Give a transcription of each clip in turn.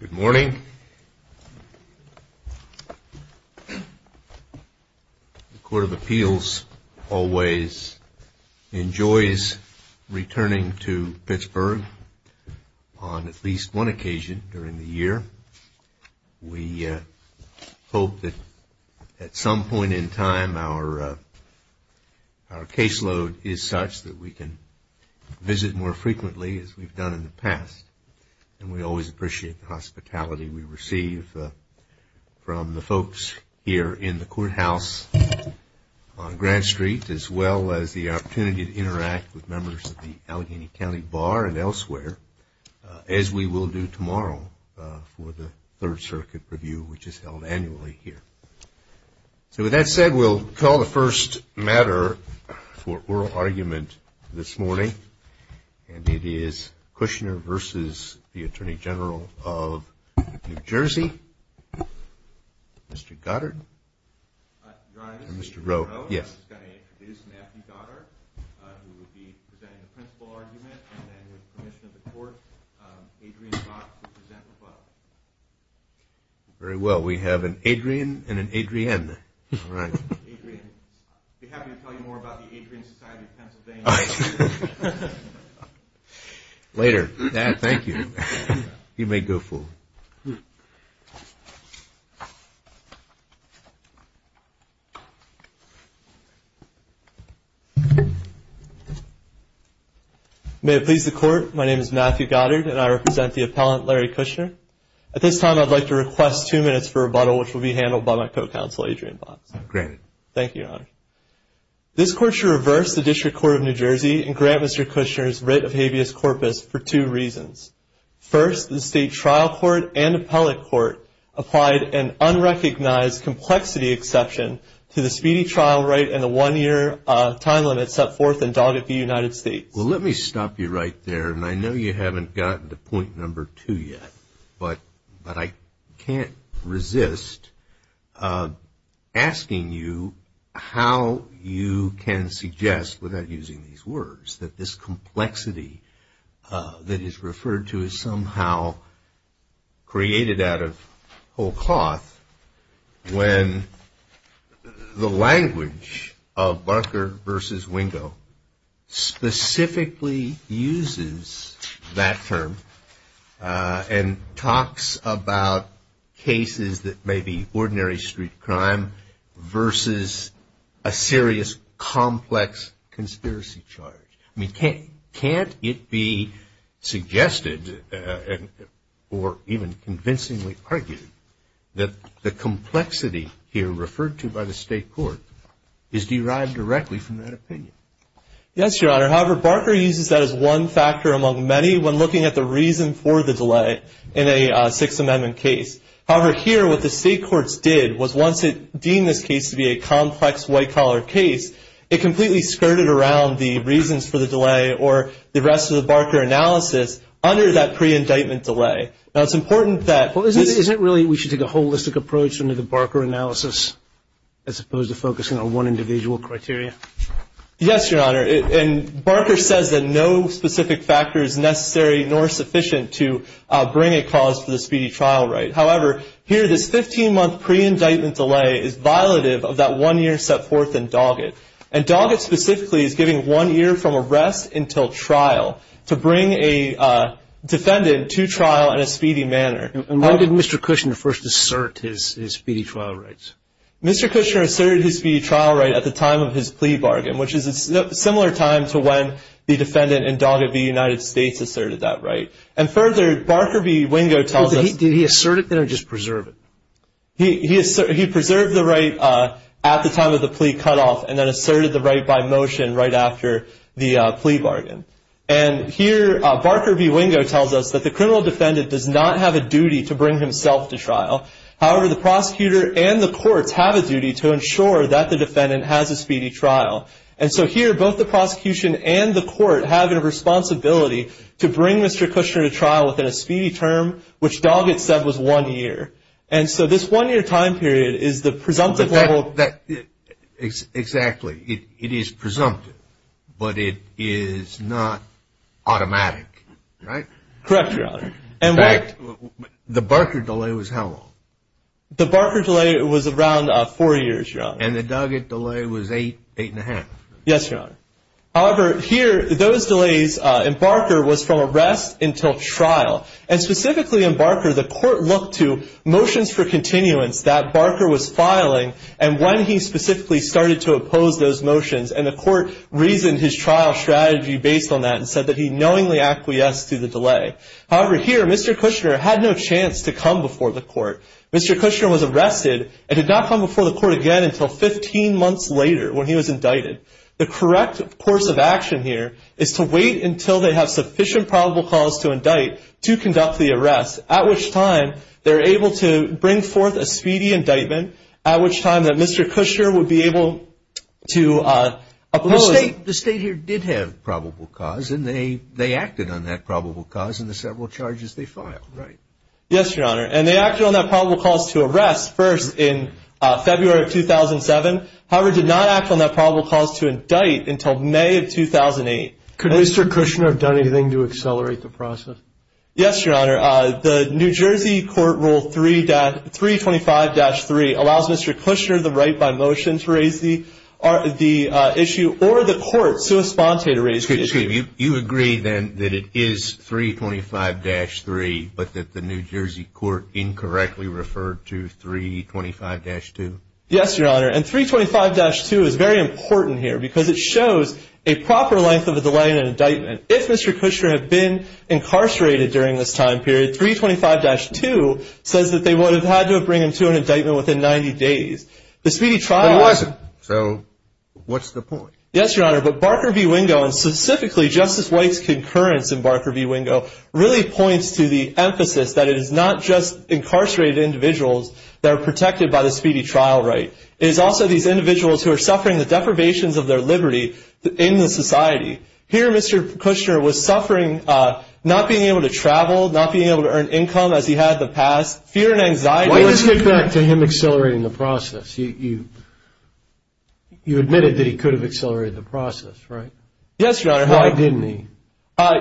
Good morning. The Court of Appeals always enjoys returning to Pittsburgh on at least one occasion during the year. We hope that at some point in time our caseload is such that we can visit more frequently. As we've done in the past. And we always appreciate the hospitality we receive from the folks here in the courthouse on Grand Street as well as the opportunity to interact with members of the Allegheny County Bar and elsewhere as we will do tomorrow for the Third Circuit Review which is held annually here. So with that said, we'll call the first matter for oral argument this morning. And it is Kushner v. Atty Gen NJ. Mr. Goddard and Mr. Rowe. Very well. We have an Adrian and an Adrienne. Later. Thank you. You may go forward. May it please the Court. My name is Matthew Goddard and I represent the appellant Larry Kushner. At this time I'd like to request two minutes for rebuttal which will be handled by my co-counsel Adrienne Botts. Granted. Thank you, Your Honor. This Court shall reverse the District Court of New Jersey and grant Mr. Kushner's writ of habeas corpus for two reasons. First, the State Trial Court and Appellate Court applied an unrecognized complexity exception to the speedy trial right and the one-year time limit set forth in Doggett v. United States. Well, let me stop you right there. And I know you haven't gotten to point number two yet. But I can't resist asking you how you can suggest without using these words that this complexity that is referred to is somehow created out of whole cloth when the language of Barker v. Wingo specifically uses that term and talks about cases that may be ordinary street crime versus a serious complex conspiracy charge. I mean, can't it be suggested or even convincingly argued that the complexity here referred to by the State Court is derived directly from that opinion? Yes, Your Honor. However, Barker uses that as one factor among many when looking at the reason for the delay in a Sixth Amendment case. However, here what the State Courts did was once it deemed this case to be a complex white-collar case, it completely skirted around the reasons for the delay or the rest of the Barker analysis under that pre-indictment delay. Well, isn't it really we should take a holistic approach under the Barker analysis as opposed to focusing on one individual criteria? And why did Mr. Kushner first assert his speedy trial rights? Mr. Kushner asserted his speedy trial right at the time of his plea bargain, which is a similar time to when the defendant in Doggett v. United States asserted that right. And further, Barker v. Wingo tells us Did he assert it then or just preserve it? He preserved the right at the time of the plea cutoff and then asserted the right by motion right after the plea bargain. And here Barker v. Wingo tells us that the criminal defendant does not have a duty to bring himself to trial. However, the prosecutor and the courts have a duty to ensure that the defendant has a speedy trial. And so here both the prosecution and the court have a responsibility to bring Mr. Kushner to trial within a speedy term, which Doggett said was one year. And so this one-year time period is the presumptive level. Exactly. It is presumptive, but it is not automatic, right? Correct, Your Honor. In fact, the Barker delay was how long? And the Doggett delay was eight and a half. Yes, Your Honor. However, here those delays in Barker was from arrest until trial. And specifically in Barker, the court looked to motions for continuance that Barker was filing and when he specifically started to oppose those motions. And the court reasoned his trial strategy based on that and said that he knowingly acquiesced to the delay. However, here Mr. Kushner had no chance to come before the court. Mr. Kushner was arrested and did not come before the court again until 15 months later when he was indicted. The correct course of action here is to wait until they have sufficient probable cause to indict to conduct the arrest, at which time they're able to bring forth a speedy indictment, at which time that Mr. Kushner would be able to oppose. The state here did have probable cause and they acted on that probable cause in the several charges they filed, right? Yes, Your Honor. And they acted on that probable cause to arrest first in February of 2007. However, did not act on that probable cause to indict until May of 2008. Could Mr. Kushner have done anything to accelerate the process? Yes, Your Honor. The New Jersey court rule 325-3 allows Mr. Kushner the right by motion to raise the issue or the court sui sponte to raise the issue. You agree then that it is 325-3 but that the New Jersey court incorrectly referred to 325-2? Yes, Your Honor. And 325-2 is very important here because it shows a proper length of a delay in an indictment. If Mr. Kushner had been incarcerated during this time period, 325-2 says that they would have had to bring him to an indictment within 90 days. But he wasn't. So what's the point? Yes, Your Honor. But Barker v. Wingo, and specifically Justice White's concurrence in Barker v. Wingo, really points to the emphasis that it is not just incarcerated individuals that are protected by the speedy trial right. It is also these individuals who are suffering the deprivations of their liberty in the society. Here, Mr. Kushner was suffering not being able to travel, not being able to earn income as he had in the past, fear and anxiety. Why does this get back to him accelerating the process? You admitted that he could have accelerated the process, right? Yes, Your Honor. Why didn't he?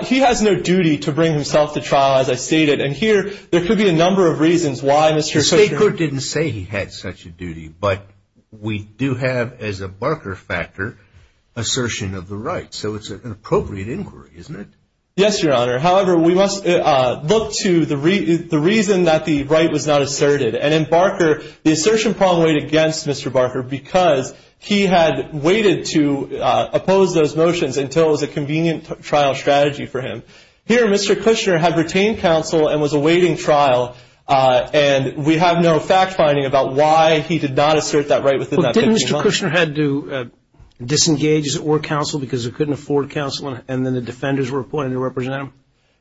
He has no duty to bring himself to trial, as I stated. And here, there could be a number of reasons why Mr. Kushner The court didn't say he had such a duty, but we do have, as a Barker factor, assertion of the right. So it's an appropriate inquiry, isn't it? Yes, Your Honor. However, we must look to the reason that the right was not asserted. And in Barker, the assertion problem weighed against Mr. Barker because he had waited to oppose those motions until it was a convenient trial strategy for him. Here, Mr. Kushner had retained counsel and was awaiting trial. And we have no fact-finding about why he did not assert that right within that 15 months. But didn't Mr. Kushner have to disengage as it were counsel because he couldn't afford counsel and then the defenders were appointed to represent him?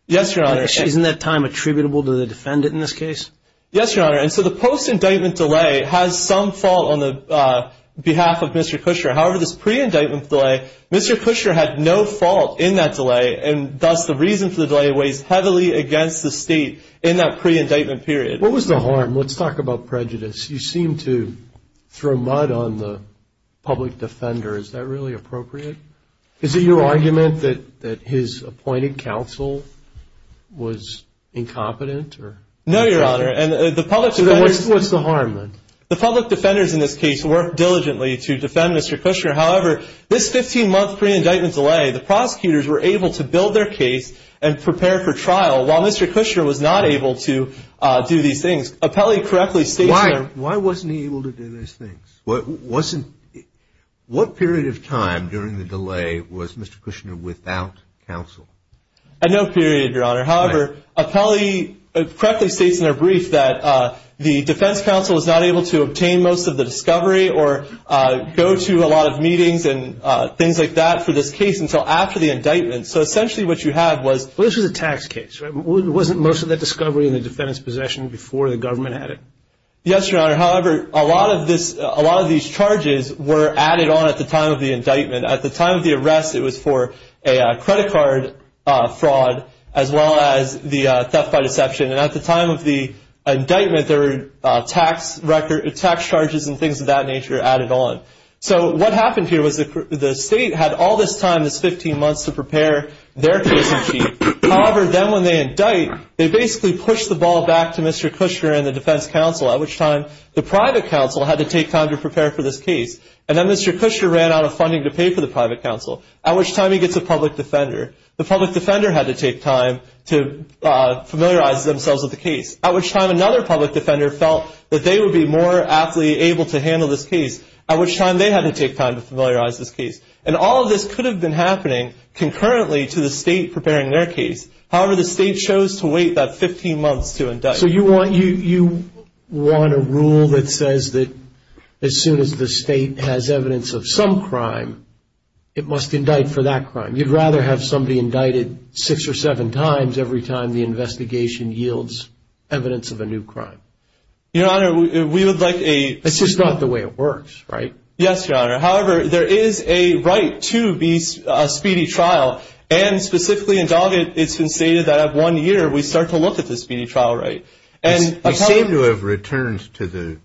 Yes, Your Honor. Isn't that time attributable to the defendant in this case? Yes, Your Honor. And so the post-indictment delay has some fault on the behalf of Mr. Kushner. However, this pre-indictment delay, Mr. Kushner had no fault in that delay, and thus the reason for the delay weighs heavily against the state in that pre-indictment period. What was the harm? Let's talk about prejudice. You seem to throw mud on the public defender. Is that really appropriate? Is it your argument that his appointed counsel was incompetent? No, Your Honor. What's the harm then? The public defenders in this case worked diligently to defend Mr. Kushner. However, this 15-month pre-indictment delay, the prosecutors were able to build their case and prepare for trial while Mr. Kushner was not able to do these things. Appellee correctly states in their- Why wasn't he able to do those things? What period of time during the delay was Mr. Kushner without counsel? At no period, Your Honor. However, appellee correctly states in their brief that the defense counsel was not able to obtain most of the discovery or go to a lot of meetings and things like that for this case until after the indictment. So essentially what you have was- Well, this was a tax case. Wasn't most of the discovery in the defendant's possession before the government had it? Yes, Your Honor. However, a lot of these charges were added on at the time of the indictment. At the time of the arrest, it was for a credit card fraud as well as the theft by deception. And at the time of the indictment, there were tax charges and things of that nature added on. So what happened here was the state had all this time, this 15 months, to prepare their case in chief. However, then when they indict, they basically push the ball back to Mr. Kushner and the defense counsel, at which time the private counsel had to take time to prepare for this case. And then Mr. Kushner ran out of funding to pay for the private counsel, at which time he gets a public defender. The public defender had to take time to familiarize themselves with the case, at which time another public defender felt that they would be more aptly able to handle this case, at which time they had to take time to familiarize this case. And all of this could have been happening concurrently to the state preparing their case. However, the state chose to wait that 15 months to indict. So you want a rule that says that as soon as the state has evidence of some crime, it must indict for that crime. You'd rather have somebody indicted six or seven times every time the investigation yields evidence of a new crime. Your Honor, we would like a- That's just not the way it works, right? Yes, Your Honor. However, there is a right to be a speedy trial, and specifically in Doggett, it's been stated that at one year, we start to look at the speedy trial right. You seem to have returned to the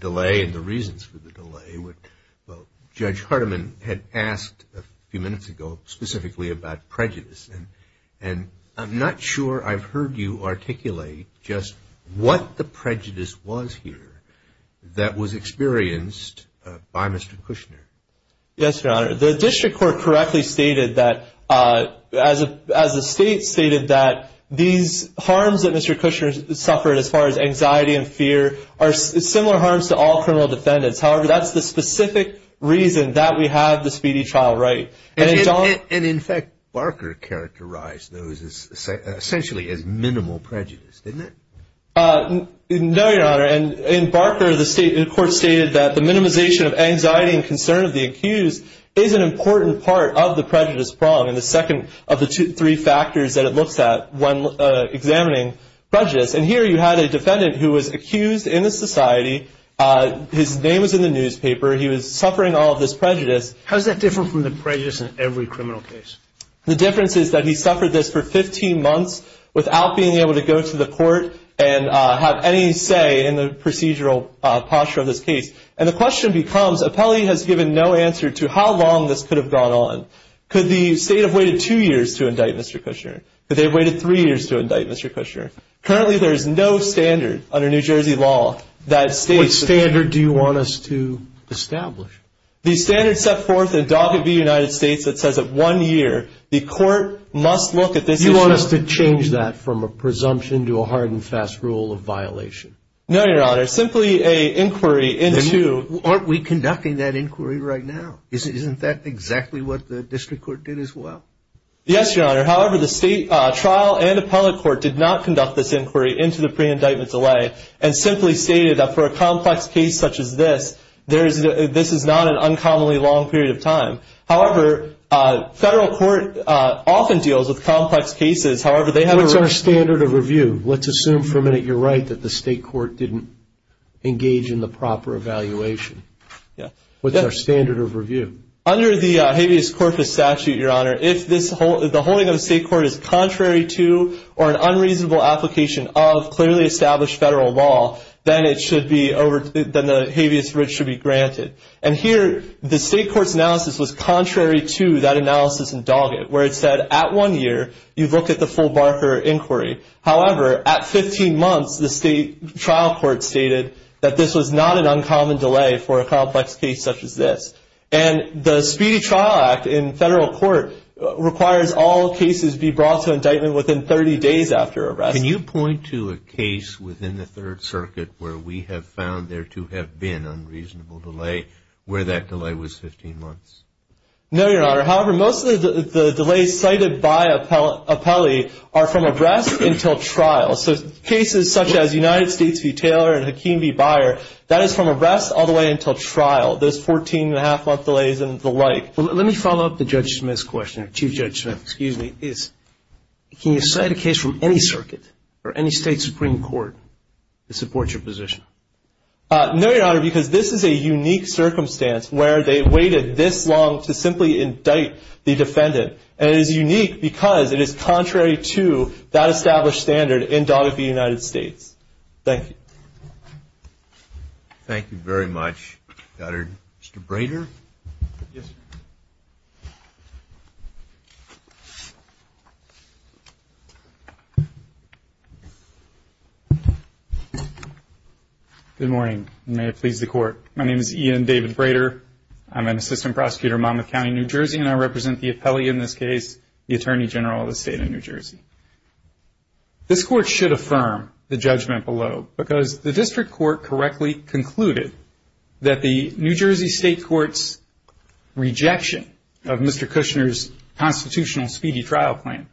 delay and the reasons for the delay. Judge Hardiman had asked a few minutes ago specifically about prejudice, and I'm not sure I've heard you articulate just what the prejudice was here that was experienced by Mr. Kushner. Yes, Your Honor. The district court correctly stated that, as the state stated that, these harms that Mr. Kushner suffered as far as anxiety and fear are similar harms to all criminal defendants. However, that's the specific reason that we have the speedy trial right. And in fact, Barker characterized those essentially as minimal prejudice, didn't he? No, Your Honor. And in Barker, the court stated that the minimization of anxiety and concern of the accused is an important part of the prejudice prong, and the second of the three factors that it looks at when examining prejudice. And here you had a defendant who was accused in the society. His name was in the newspaper. He was suffering all of this prejudice. How is that different from the prejudice in every criminal case? The difference is that he suffered this for 15 months without being able to go to the court and have any say in the procedural posture of this case. And the question becomes, appellee has given no answer to how long this could have gone on. Could the state have waited two years to indict Mr. Kushner? Could they have waited three years to indict Mr. Kushner? Currently, there is no standard under New Jersey law that states that. What standard do you want us to establish? The standard set forth in Dog of the United States that says that one year, the court must look at this issue. You want us to change that from a presumption to a hard and fast rule of violation? No, Your Honor. Simply a inquiry into. Aren't we conducting that inquiry right now? Isn't that exactly what the district court did as well? Yes, Your Honor. However, the state trial and appellate court did not conduct this inquiry into the pre-indictment delay and simply stated that for a complex case such as this, this is not an uncommonly long period of time. However, federal court often deals with complex cases. What's our standard of review? Let's assume for a minute you're right that the state court didn't engage in the proper evaluation. What's our standard of review? Under the habeas corpus statute, Your Honor, if the holding of the state court is contrary to or an unreasonable application of clearly established federal law, then the habeas writ should be granted. And here, the state court's analysis was contrary to that analysis in Doggett, where it said at one year, you look at the full Barker inquiry. However, at 15 months, the state trial court stated that this was not an uncommon delay for a complex case such as this. And the Speedy Trial Act in federal court requires all cases be brought to indictment within 30 days after arrest. Can you point to a case within the Third Circuit where we have found there to have been unreasonable delay, where that delay was 15 months? No, Your Honor. However, most of the delays cited by appellee are from arrest until trial. So cases such as United States v. Taylor and Hakeem v. Byer, that is from arrest all the way until trial. Those 14-and-a-half-month delays and the like. Let me follow up the Judge Smith's question. Chief Judge Smith, excuse me. Can you cite a case from any circuit or any state supreme court that supports your position? No, Your Honor, because this is a unique circumstance where they waited this long to simply indict the defendant. And it is unique because it is contrary to that established standard in Doggett v. United States. Thank you. Thank you very much. Mr. Brader? Yes, sir. Good morning, and may it please the Court. My name is Ian David Brader. I'm an assistant prosecutor in Monmouth County, New Jersey, and I represent the appellee in this case, the Attorney General of the State of New Jersey. This Court should affirm the judgment below because the district court correctly concluded that the New Jersey State Court's rejection of Mr. Kushner's constitutional speedy trial plan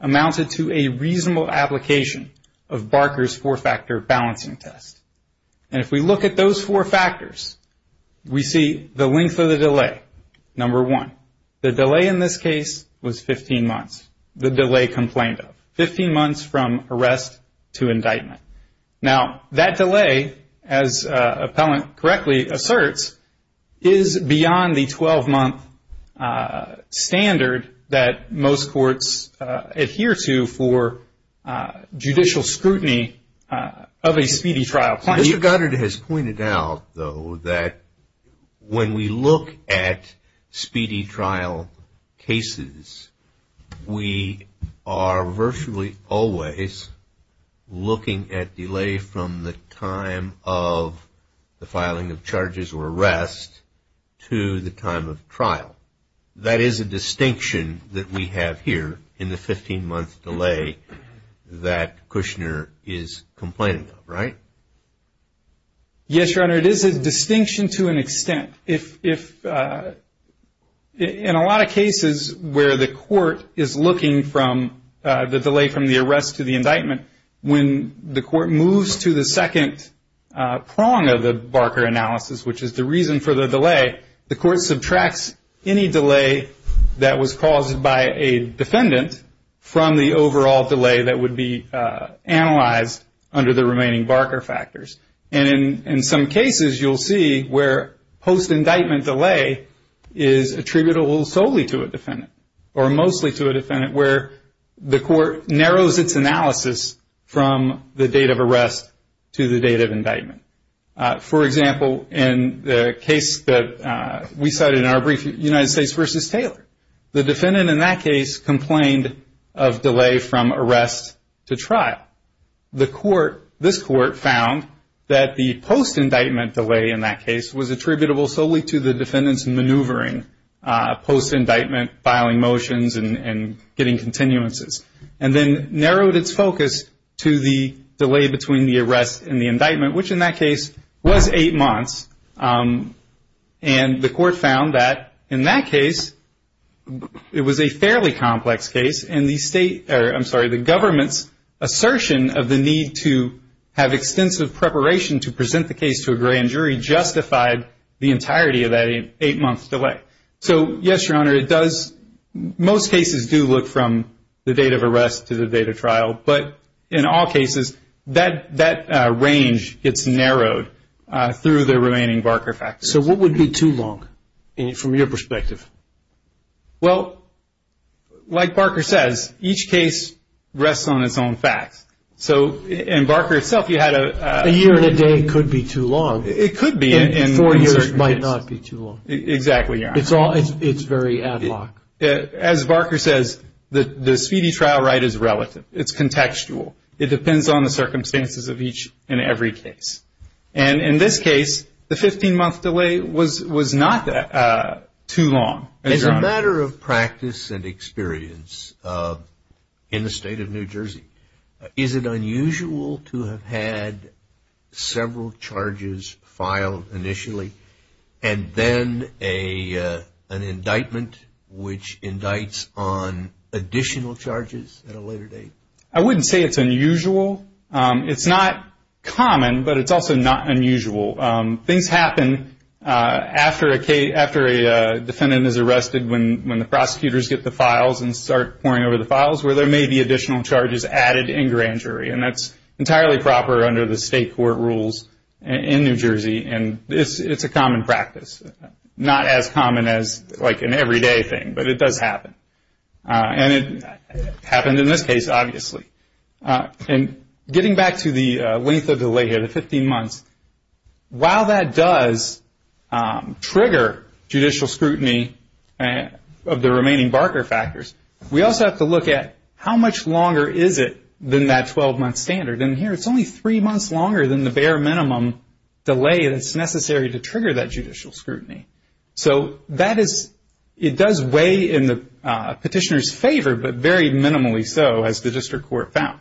amounted to a reasonable application of Barker's four-factor balancing test. And if we look at those four factors, we see the length of the delay, number one. The delay in this case was 15 months, the delay complained of, 15 months from arrest to indictment. Now, that delay, as appellant correctly asserts, is beyond the 12-month standard that most courts adhere to for judicial scrutiny of a speedy trial plan. Mr. Goddard has pointed out, though, that when we look at speedy trial cases, we are virtually always looking at delay from the time of the filing of charges or arrest to the time of trial. That is a distinction that we have here in the 15-month delay that Kushner is complaining of, right? Yes, Your Honor, it is a distinction to an extent. In a lot of cases where the court is looking from the delay from the arrest to the indictment, when the court moves to the second prong of the Barker analysis, which is the reason for the delay, the court subtracts any delay that was caused by a defendant from the overall delay that would be analyzed under the remaining Barker factors. And in some cases, you'll see where post-indictment delay is attributable solely to a defendant or mostly to a defendant where the court narrows its analysis from the date of arrest to the date of indictment. For example, in the case that we cited in our brief, United States v. Taylor, the defendant in that case complained of delay from arrest to trial. This court found that the post-indictment delay in that case was attributable solely to the defendant's maneuvering post-indictment filing motions and getting continuances, and then narrowed its focus to the delay between the arrest and the indictment, which in that case was eight months. And the court found that in that case, it was a fairly complex case, and the government's assertion of the need to have extensive preparation to present the case to a grand jury justified the entirety of that eight-month delay. So, yes, Your Honor, it does – most cases do look from the date of arrest to the date of trial, but in all cases, that range gets narrowed through the remaining Barker factors. So what would be too long from your perspective? Well, like Barker says, each case rests on its own facts. So in Barker itself, you had a – A year and a day could be too long. It could be in certain cases. Four years might not be too long. Exactly, Your Honor. It's all – it's very ad-hoc. As Barker says, the speedy trial right is relative. It's contextual. It depends on the circumstances of each and every case. And in this case, the 15-month delay was not too long, Your Honor. As a matter of practice and experience, in the state of New Jersey, is it unusual to have had several charges filed initially and then an indictment which indicts on additional charges at a later date? I wouldn't say it's unusual. It's not common, but it's also not unusual. Things happen after a defendant is arrested when the prosecutors get the files and start pouring over the files where there may be additional charges added in grand jury, and that's entirely proper under the state court rules in New Jersey, and it's a common practice. Not as common as, like, an everyday thing, but it does happen. And it happened in this case, obviously. And getting back to the length of delay here, the 15 months, while that does trigger judicial scrutiny of the remaining Barker factors, we also have to look at how much longer is it than that 12-month standard. And here it's only three months longer than the bare minimum delay that's necessary to trigger that judicial scrutiny. So it does weigh in the petitioner's favor, but very minimally so, as the district court found.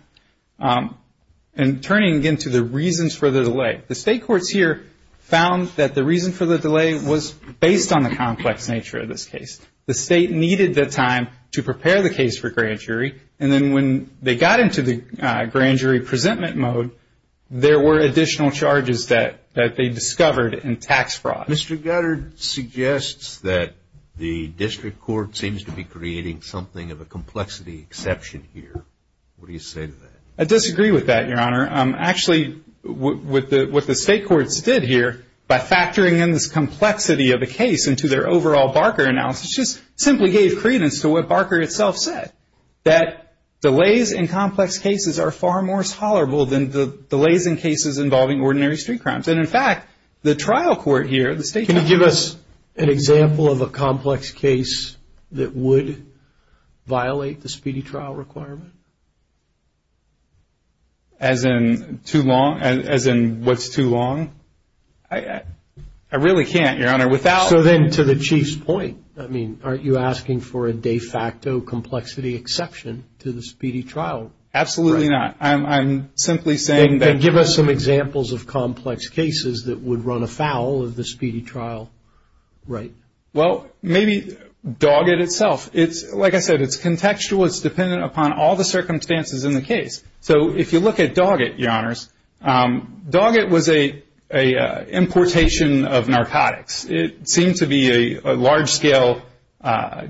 And turning, again, to the reasons for the delay, the state courts here found that the reason for the delay was based on the complex nature of this case. The state needed the time to prepare the case for grand jury, and then when they got into the grand jury presentment mode, there were additional charges that they discovered in tax fraud. Mr. Gutter suggests that the district court seems to be creating something of a complexity exception here. What do you say to that? I disagree with that, Your Honor. Actually, what the state courts did here, by factoring in this complexity of the case into their overall Barker analysis, just simply gave credence to what Barker itself said, that delays in complex cases are far more tolerable than delays in cases involving ordinary street crimes. And, in fact, the trial court here, the state court here- As in too long? As in what's too long? I really can't, Your Honor, without- So then, to the Chief's point, I mean, aren't you asking for a de facto complexity exception to the speedy trial? Absolutely not. I'm simply saying that- Then give us some examples of complex cases that would run afoul of the speedy trial. Right. Well, maybe dog it itself. Like I said, it's contextual. It's dependent upon all the circumstances in the case. So if you look at dog it, Your Honors, dog it was an importation of narcotics. It seemed to be a large-scale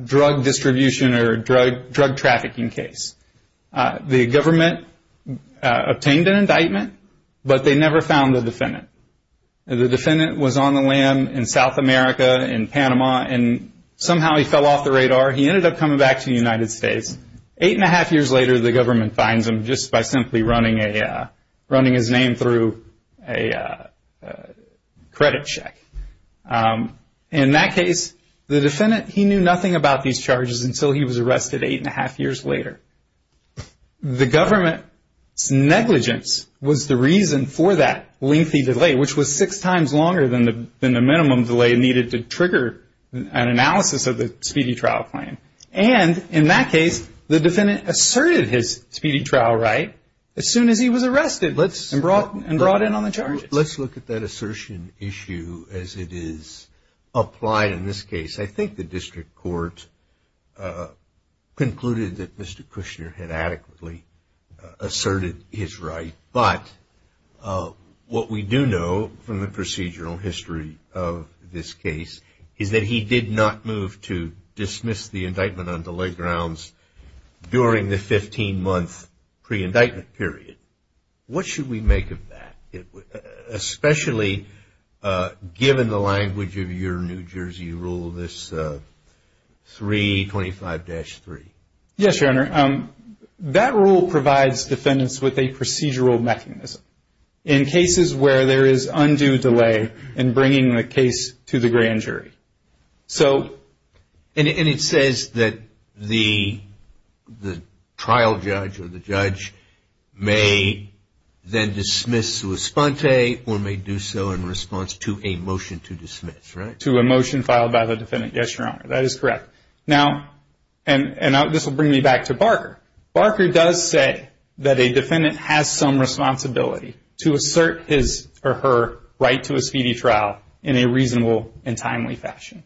drug distribution or drug trafficking case. The government obtained an indictment, but they never found the defendant. The defendant was on the land in South America, in Panama, and somehow he fell off the radar. He ended up coming back to the United States. Eight and a half years later, the government finds him just by simply running his name through a credit check. In that case, the defendant, he knew nothing about these charges until he was arrested eight and a half years later. The government's negligence was the reason for that lengthy delay, which was six times longer than the minimum delay needed to trigger an analysis of the speedy trial claim. And in that case, the defendant asserted his speedy trial right as soon as he was arrested and brought in on the charges. Let's look at that assertion issue as it is applied in this case. I think the district court concluded that Mr. Kushner had adequately asserted his right. But what we do know from the procedural history of this case is that he did not move to dismiss the indictment on delay grounds during the 15-month pre-indictment period. What should we make of that, especially given the language of your New Jersey rule, this 325-3? Yes, Your Honor. That rule provides defendants with a procedural mechanism. In cases where there is undue delay in bringing the case to the grand jury. And it says that the trial judge or the judge may then dismiss to esponte or may do so in response to a motion to dismiss, right? To a motion filed by the defendant, yes, Your Honor. That is correct. Now, and this will bring me back to Barker. Barker does say that a defendant has some responsibility to assert his or her right to a speedy trial in a reasonable and timely fashion.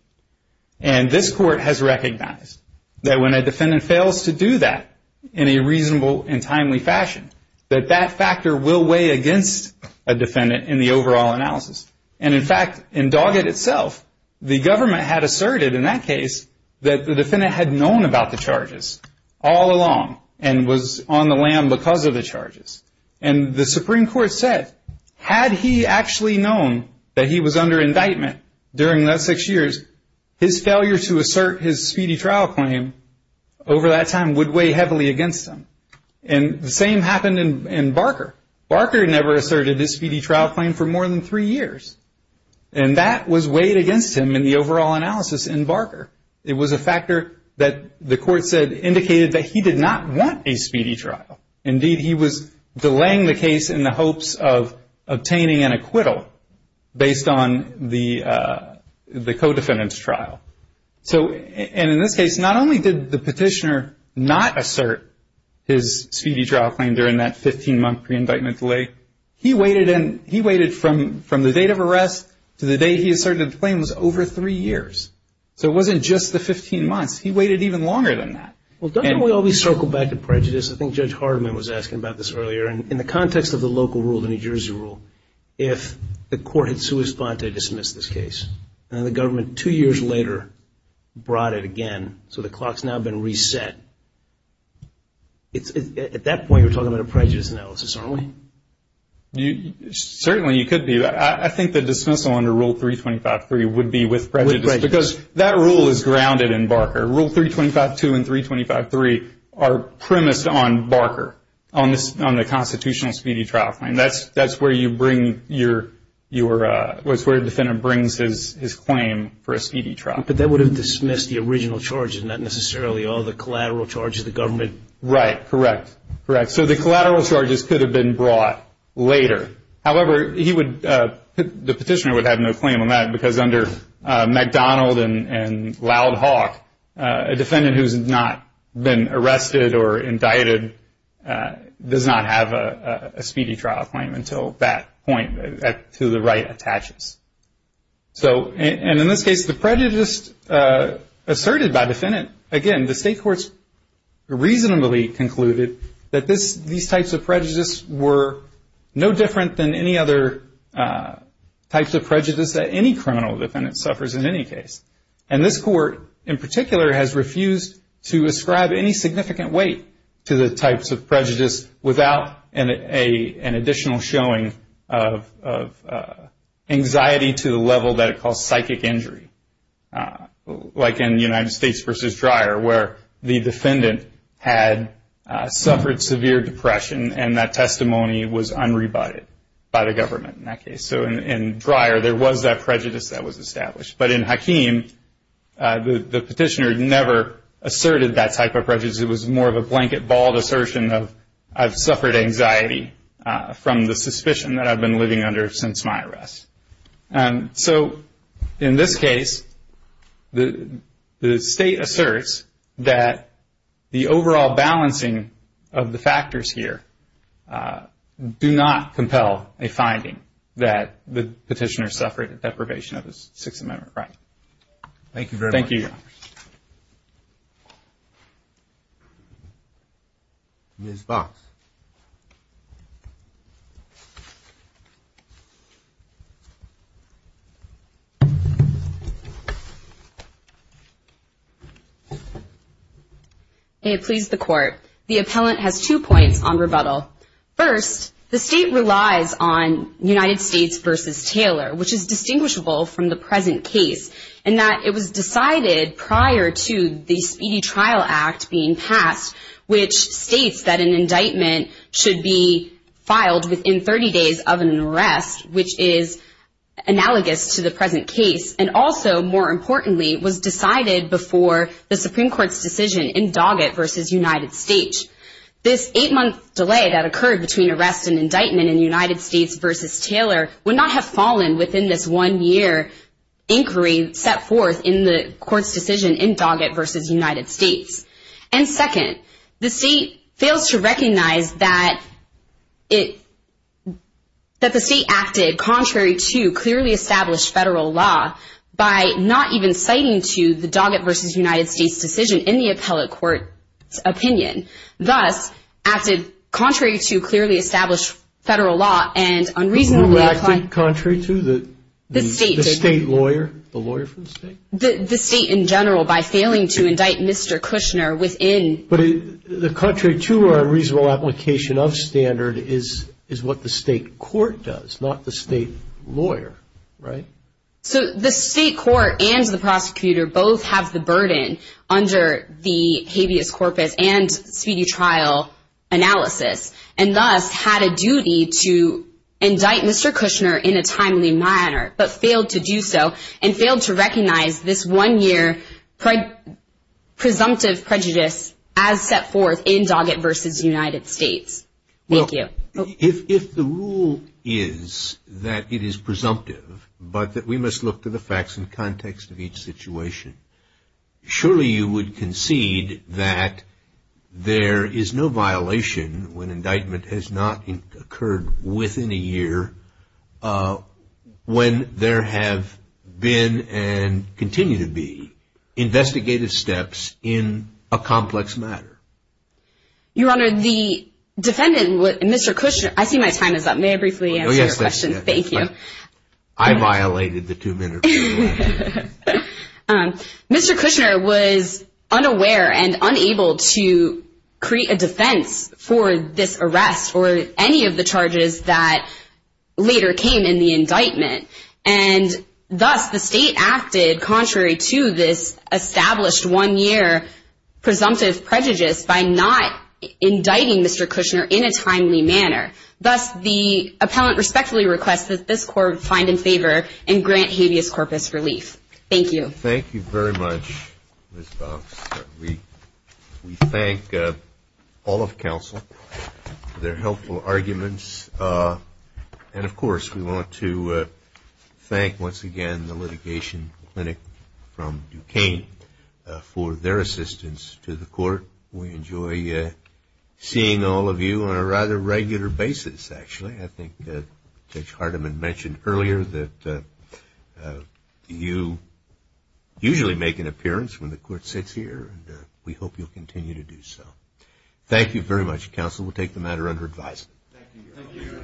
And this court has recognized that when a defendant fails to do that in a reasonable and timely fashion, that that factor will weigh against a defendant in the overall analysis. And in fact, in Doggett itself, the government had asserted in that case that the defendant had known about the charges all along and was on the lam because of the charges. And the Supreme Court said, had he actually known that he was under indictment during that six years, his failure to assert his speedy trial claim over that time would weigh heavily against him. And the same happened in Barker. Barker never asserted his speedy trial claim for more than three years. And that was weighed against him in the overall analysis in Barker. It was a factor that the court said indicated that he did not want a speedy trial. Indeed, he was delaying the case in the hopes of obtaining an acquittal based on the co-defendant's trial. And in this case, not only did the petitioner not assert his speedy trial claim during that 15-month pre-indictment delay, he waited from the date of arrest to the day he asserted the claim was over three years. So it wasn't just the 15 months. He waited even longer than that. Well, don't we always circle back to prejudice? I think Judge Hardiman was asking about this earlier. In the context of the local rule, the New Jersey rule, if the court had sua sponte dismissed this case, and then the government two years later brought it again, so the clock's now been reset, at that point you're talking about a prejudice analysis, aren't we? Certainly you could be. I think the dismissal under Rule 325.3 would be with prejudice because that rule is grounded in Barker. Rule 325.2 and 325.3 are premised on Barker, on the constitutional speedy trial claim. That's where the defendant brings his claim for a speedy trial. But that would have dismissed the original charges, not necessarily all the collateral charges the government. Right. Correct. Correct. So the collateral charges could have been brought later. However, the petitioner would have no claim on that because under McDonald and Loud Hawk, a defendant who's not been arrested or indicted does not have a speedy trial claim until that point to the right attaches. And in this case, the prejudice asserted by the defendant, again, the state courts reasonably concluded that these types of prejudices were no different than any other types of prejudice that any criminal defendant suffers in any case. And this court, in particular, has refused to ascribe any significant weight to the types of prejudice without an additional showing of anxiety to the level that it caused psychic injury, like in United States v. Dreyer where the defendant had suffered severe depression and that testimony was unrebutted by the government in that case. So in Dreyer, there was that prejudice that was established. But in Hakeem, the petitioner never asserted that type of prejudice. It was more of a blanket, bald assertion of I've suffered anxiety from the suspicion that I've been living under since my arrest. So in this case, the state asserts that the overall balancing of the factors here do not compel a finding that the petitioner suffered a deprivation of his Sixth Amendment right. Thank you very much. Thank you, Your Honor. Ms. Box. May it please the Court. The appellant has two points on rebuttal. First, the state relies on United States v. Taylor, which is distinguishable from the present case, in that it was decided prior to the Speedy Trial Act being passed, which states that an indictment should be filed within 30 days of an arrest, which is analogous to the present case, and also, more importantly, was decided before the Supreme Court's decision in Doggett v. United States. This eight-month delay that occurred between arrest and indictment in United States v. Taylor would not have fallen within this one-year inquiry set forth in the Court's decision in Doggett v. United States. And second, the state fails to recognize that the state acted contrary to clearly established federal law by not even citing to the Doggett v. United States decision in the appellate court's opinion, thus acted contrary to clearly established federal law and unreasonably applied. Who acted contrary to? The state. The state lawyer? The lawyer for the state? The state in general by failing to indict Mr. Kushner within. But the contrary to or unreasonable application of standard is what the state court does, not the state lawyer, right? So the state court and the prosecutor both have the burden under the habeas corpus and speedy trial analysis and thus had a duty to indict Mr. Kushner in a timely manner but failed to do so and failed to recognize this one-year presumptive prejudice as set forth in Doggett v. United States. Thank you. If the rule is that it is presumptive but that we must look to the facts and context of each situation, surely you would concede that there is no violation when indictment has not occurred within a year when there have been and continue to be investigative steps in a complex matter. Your Honor, the defendant, Mr. Kushner, I see my time is up. May I briefly answer your question? Thank you. I violated the two-minute rule. Mr. Kushner was unaware and unable to create a defense for this arrest or any of the charges that later came in the indictment and thus the state acted contrary to this established one-year presumptive prejudice by not indicting Mr. Kushner in a timely manner. Thus the appellant respectfully requests that this court find in favor and grant habeas corpus relief. Thank you. Thank you very much, Ms. Box. We thank all of counsel for their helpful arguments and, of course, we want to thank once again the litigation clinic from Duquesne for their assistance to the court. We enjoy seeing all of you on a rather regular basis, actually. I think Judge Hardiman mentioned earlier that you usually make an appearance when the court sits here and we hope you'll continue to do so. Thank you very much, counsel. We'll take the matter under advisement. Thank you.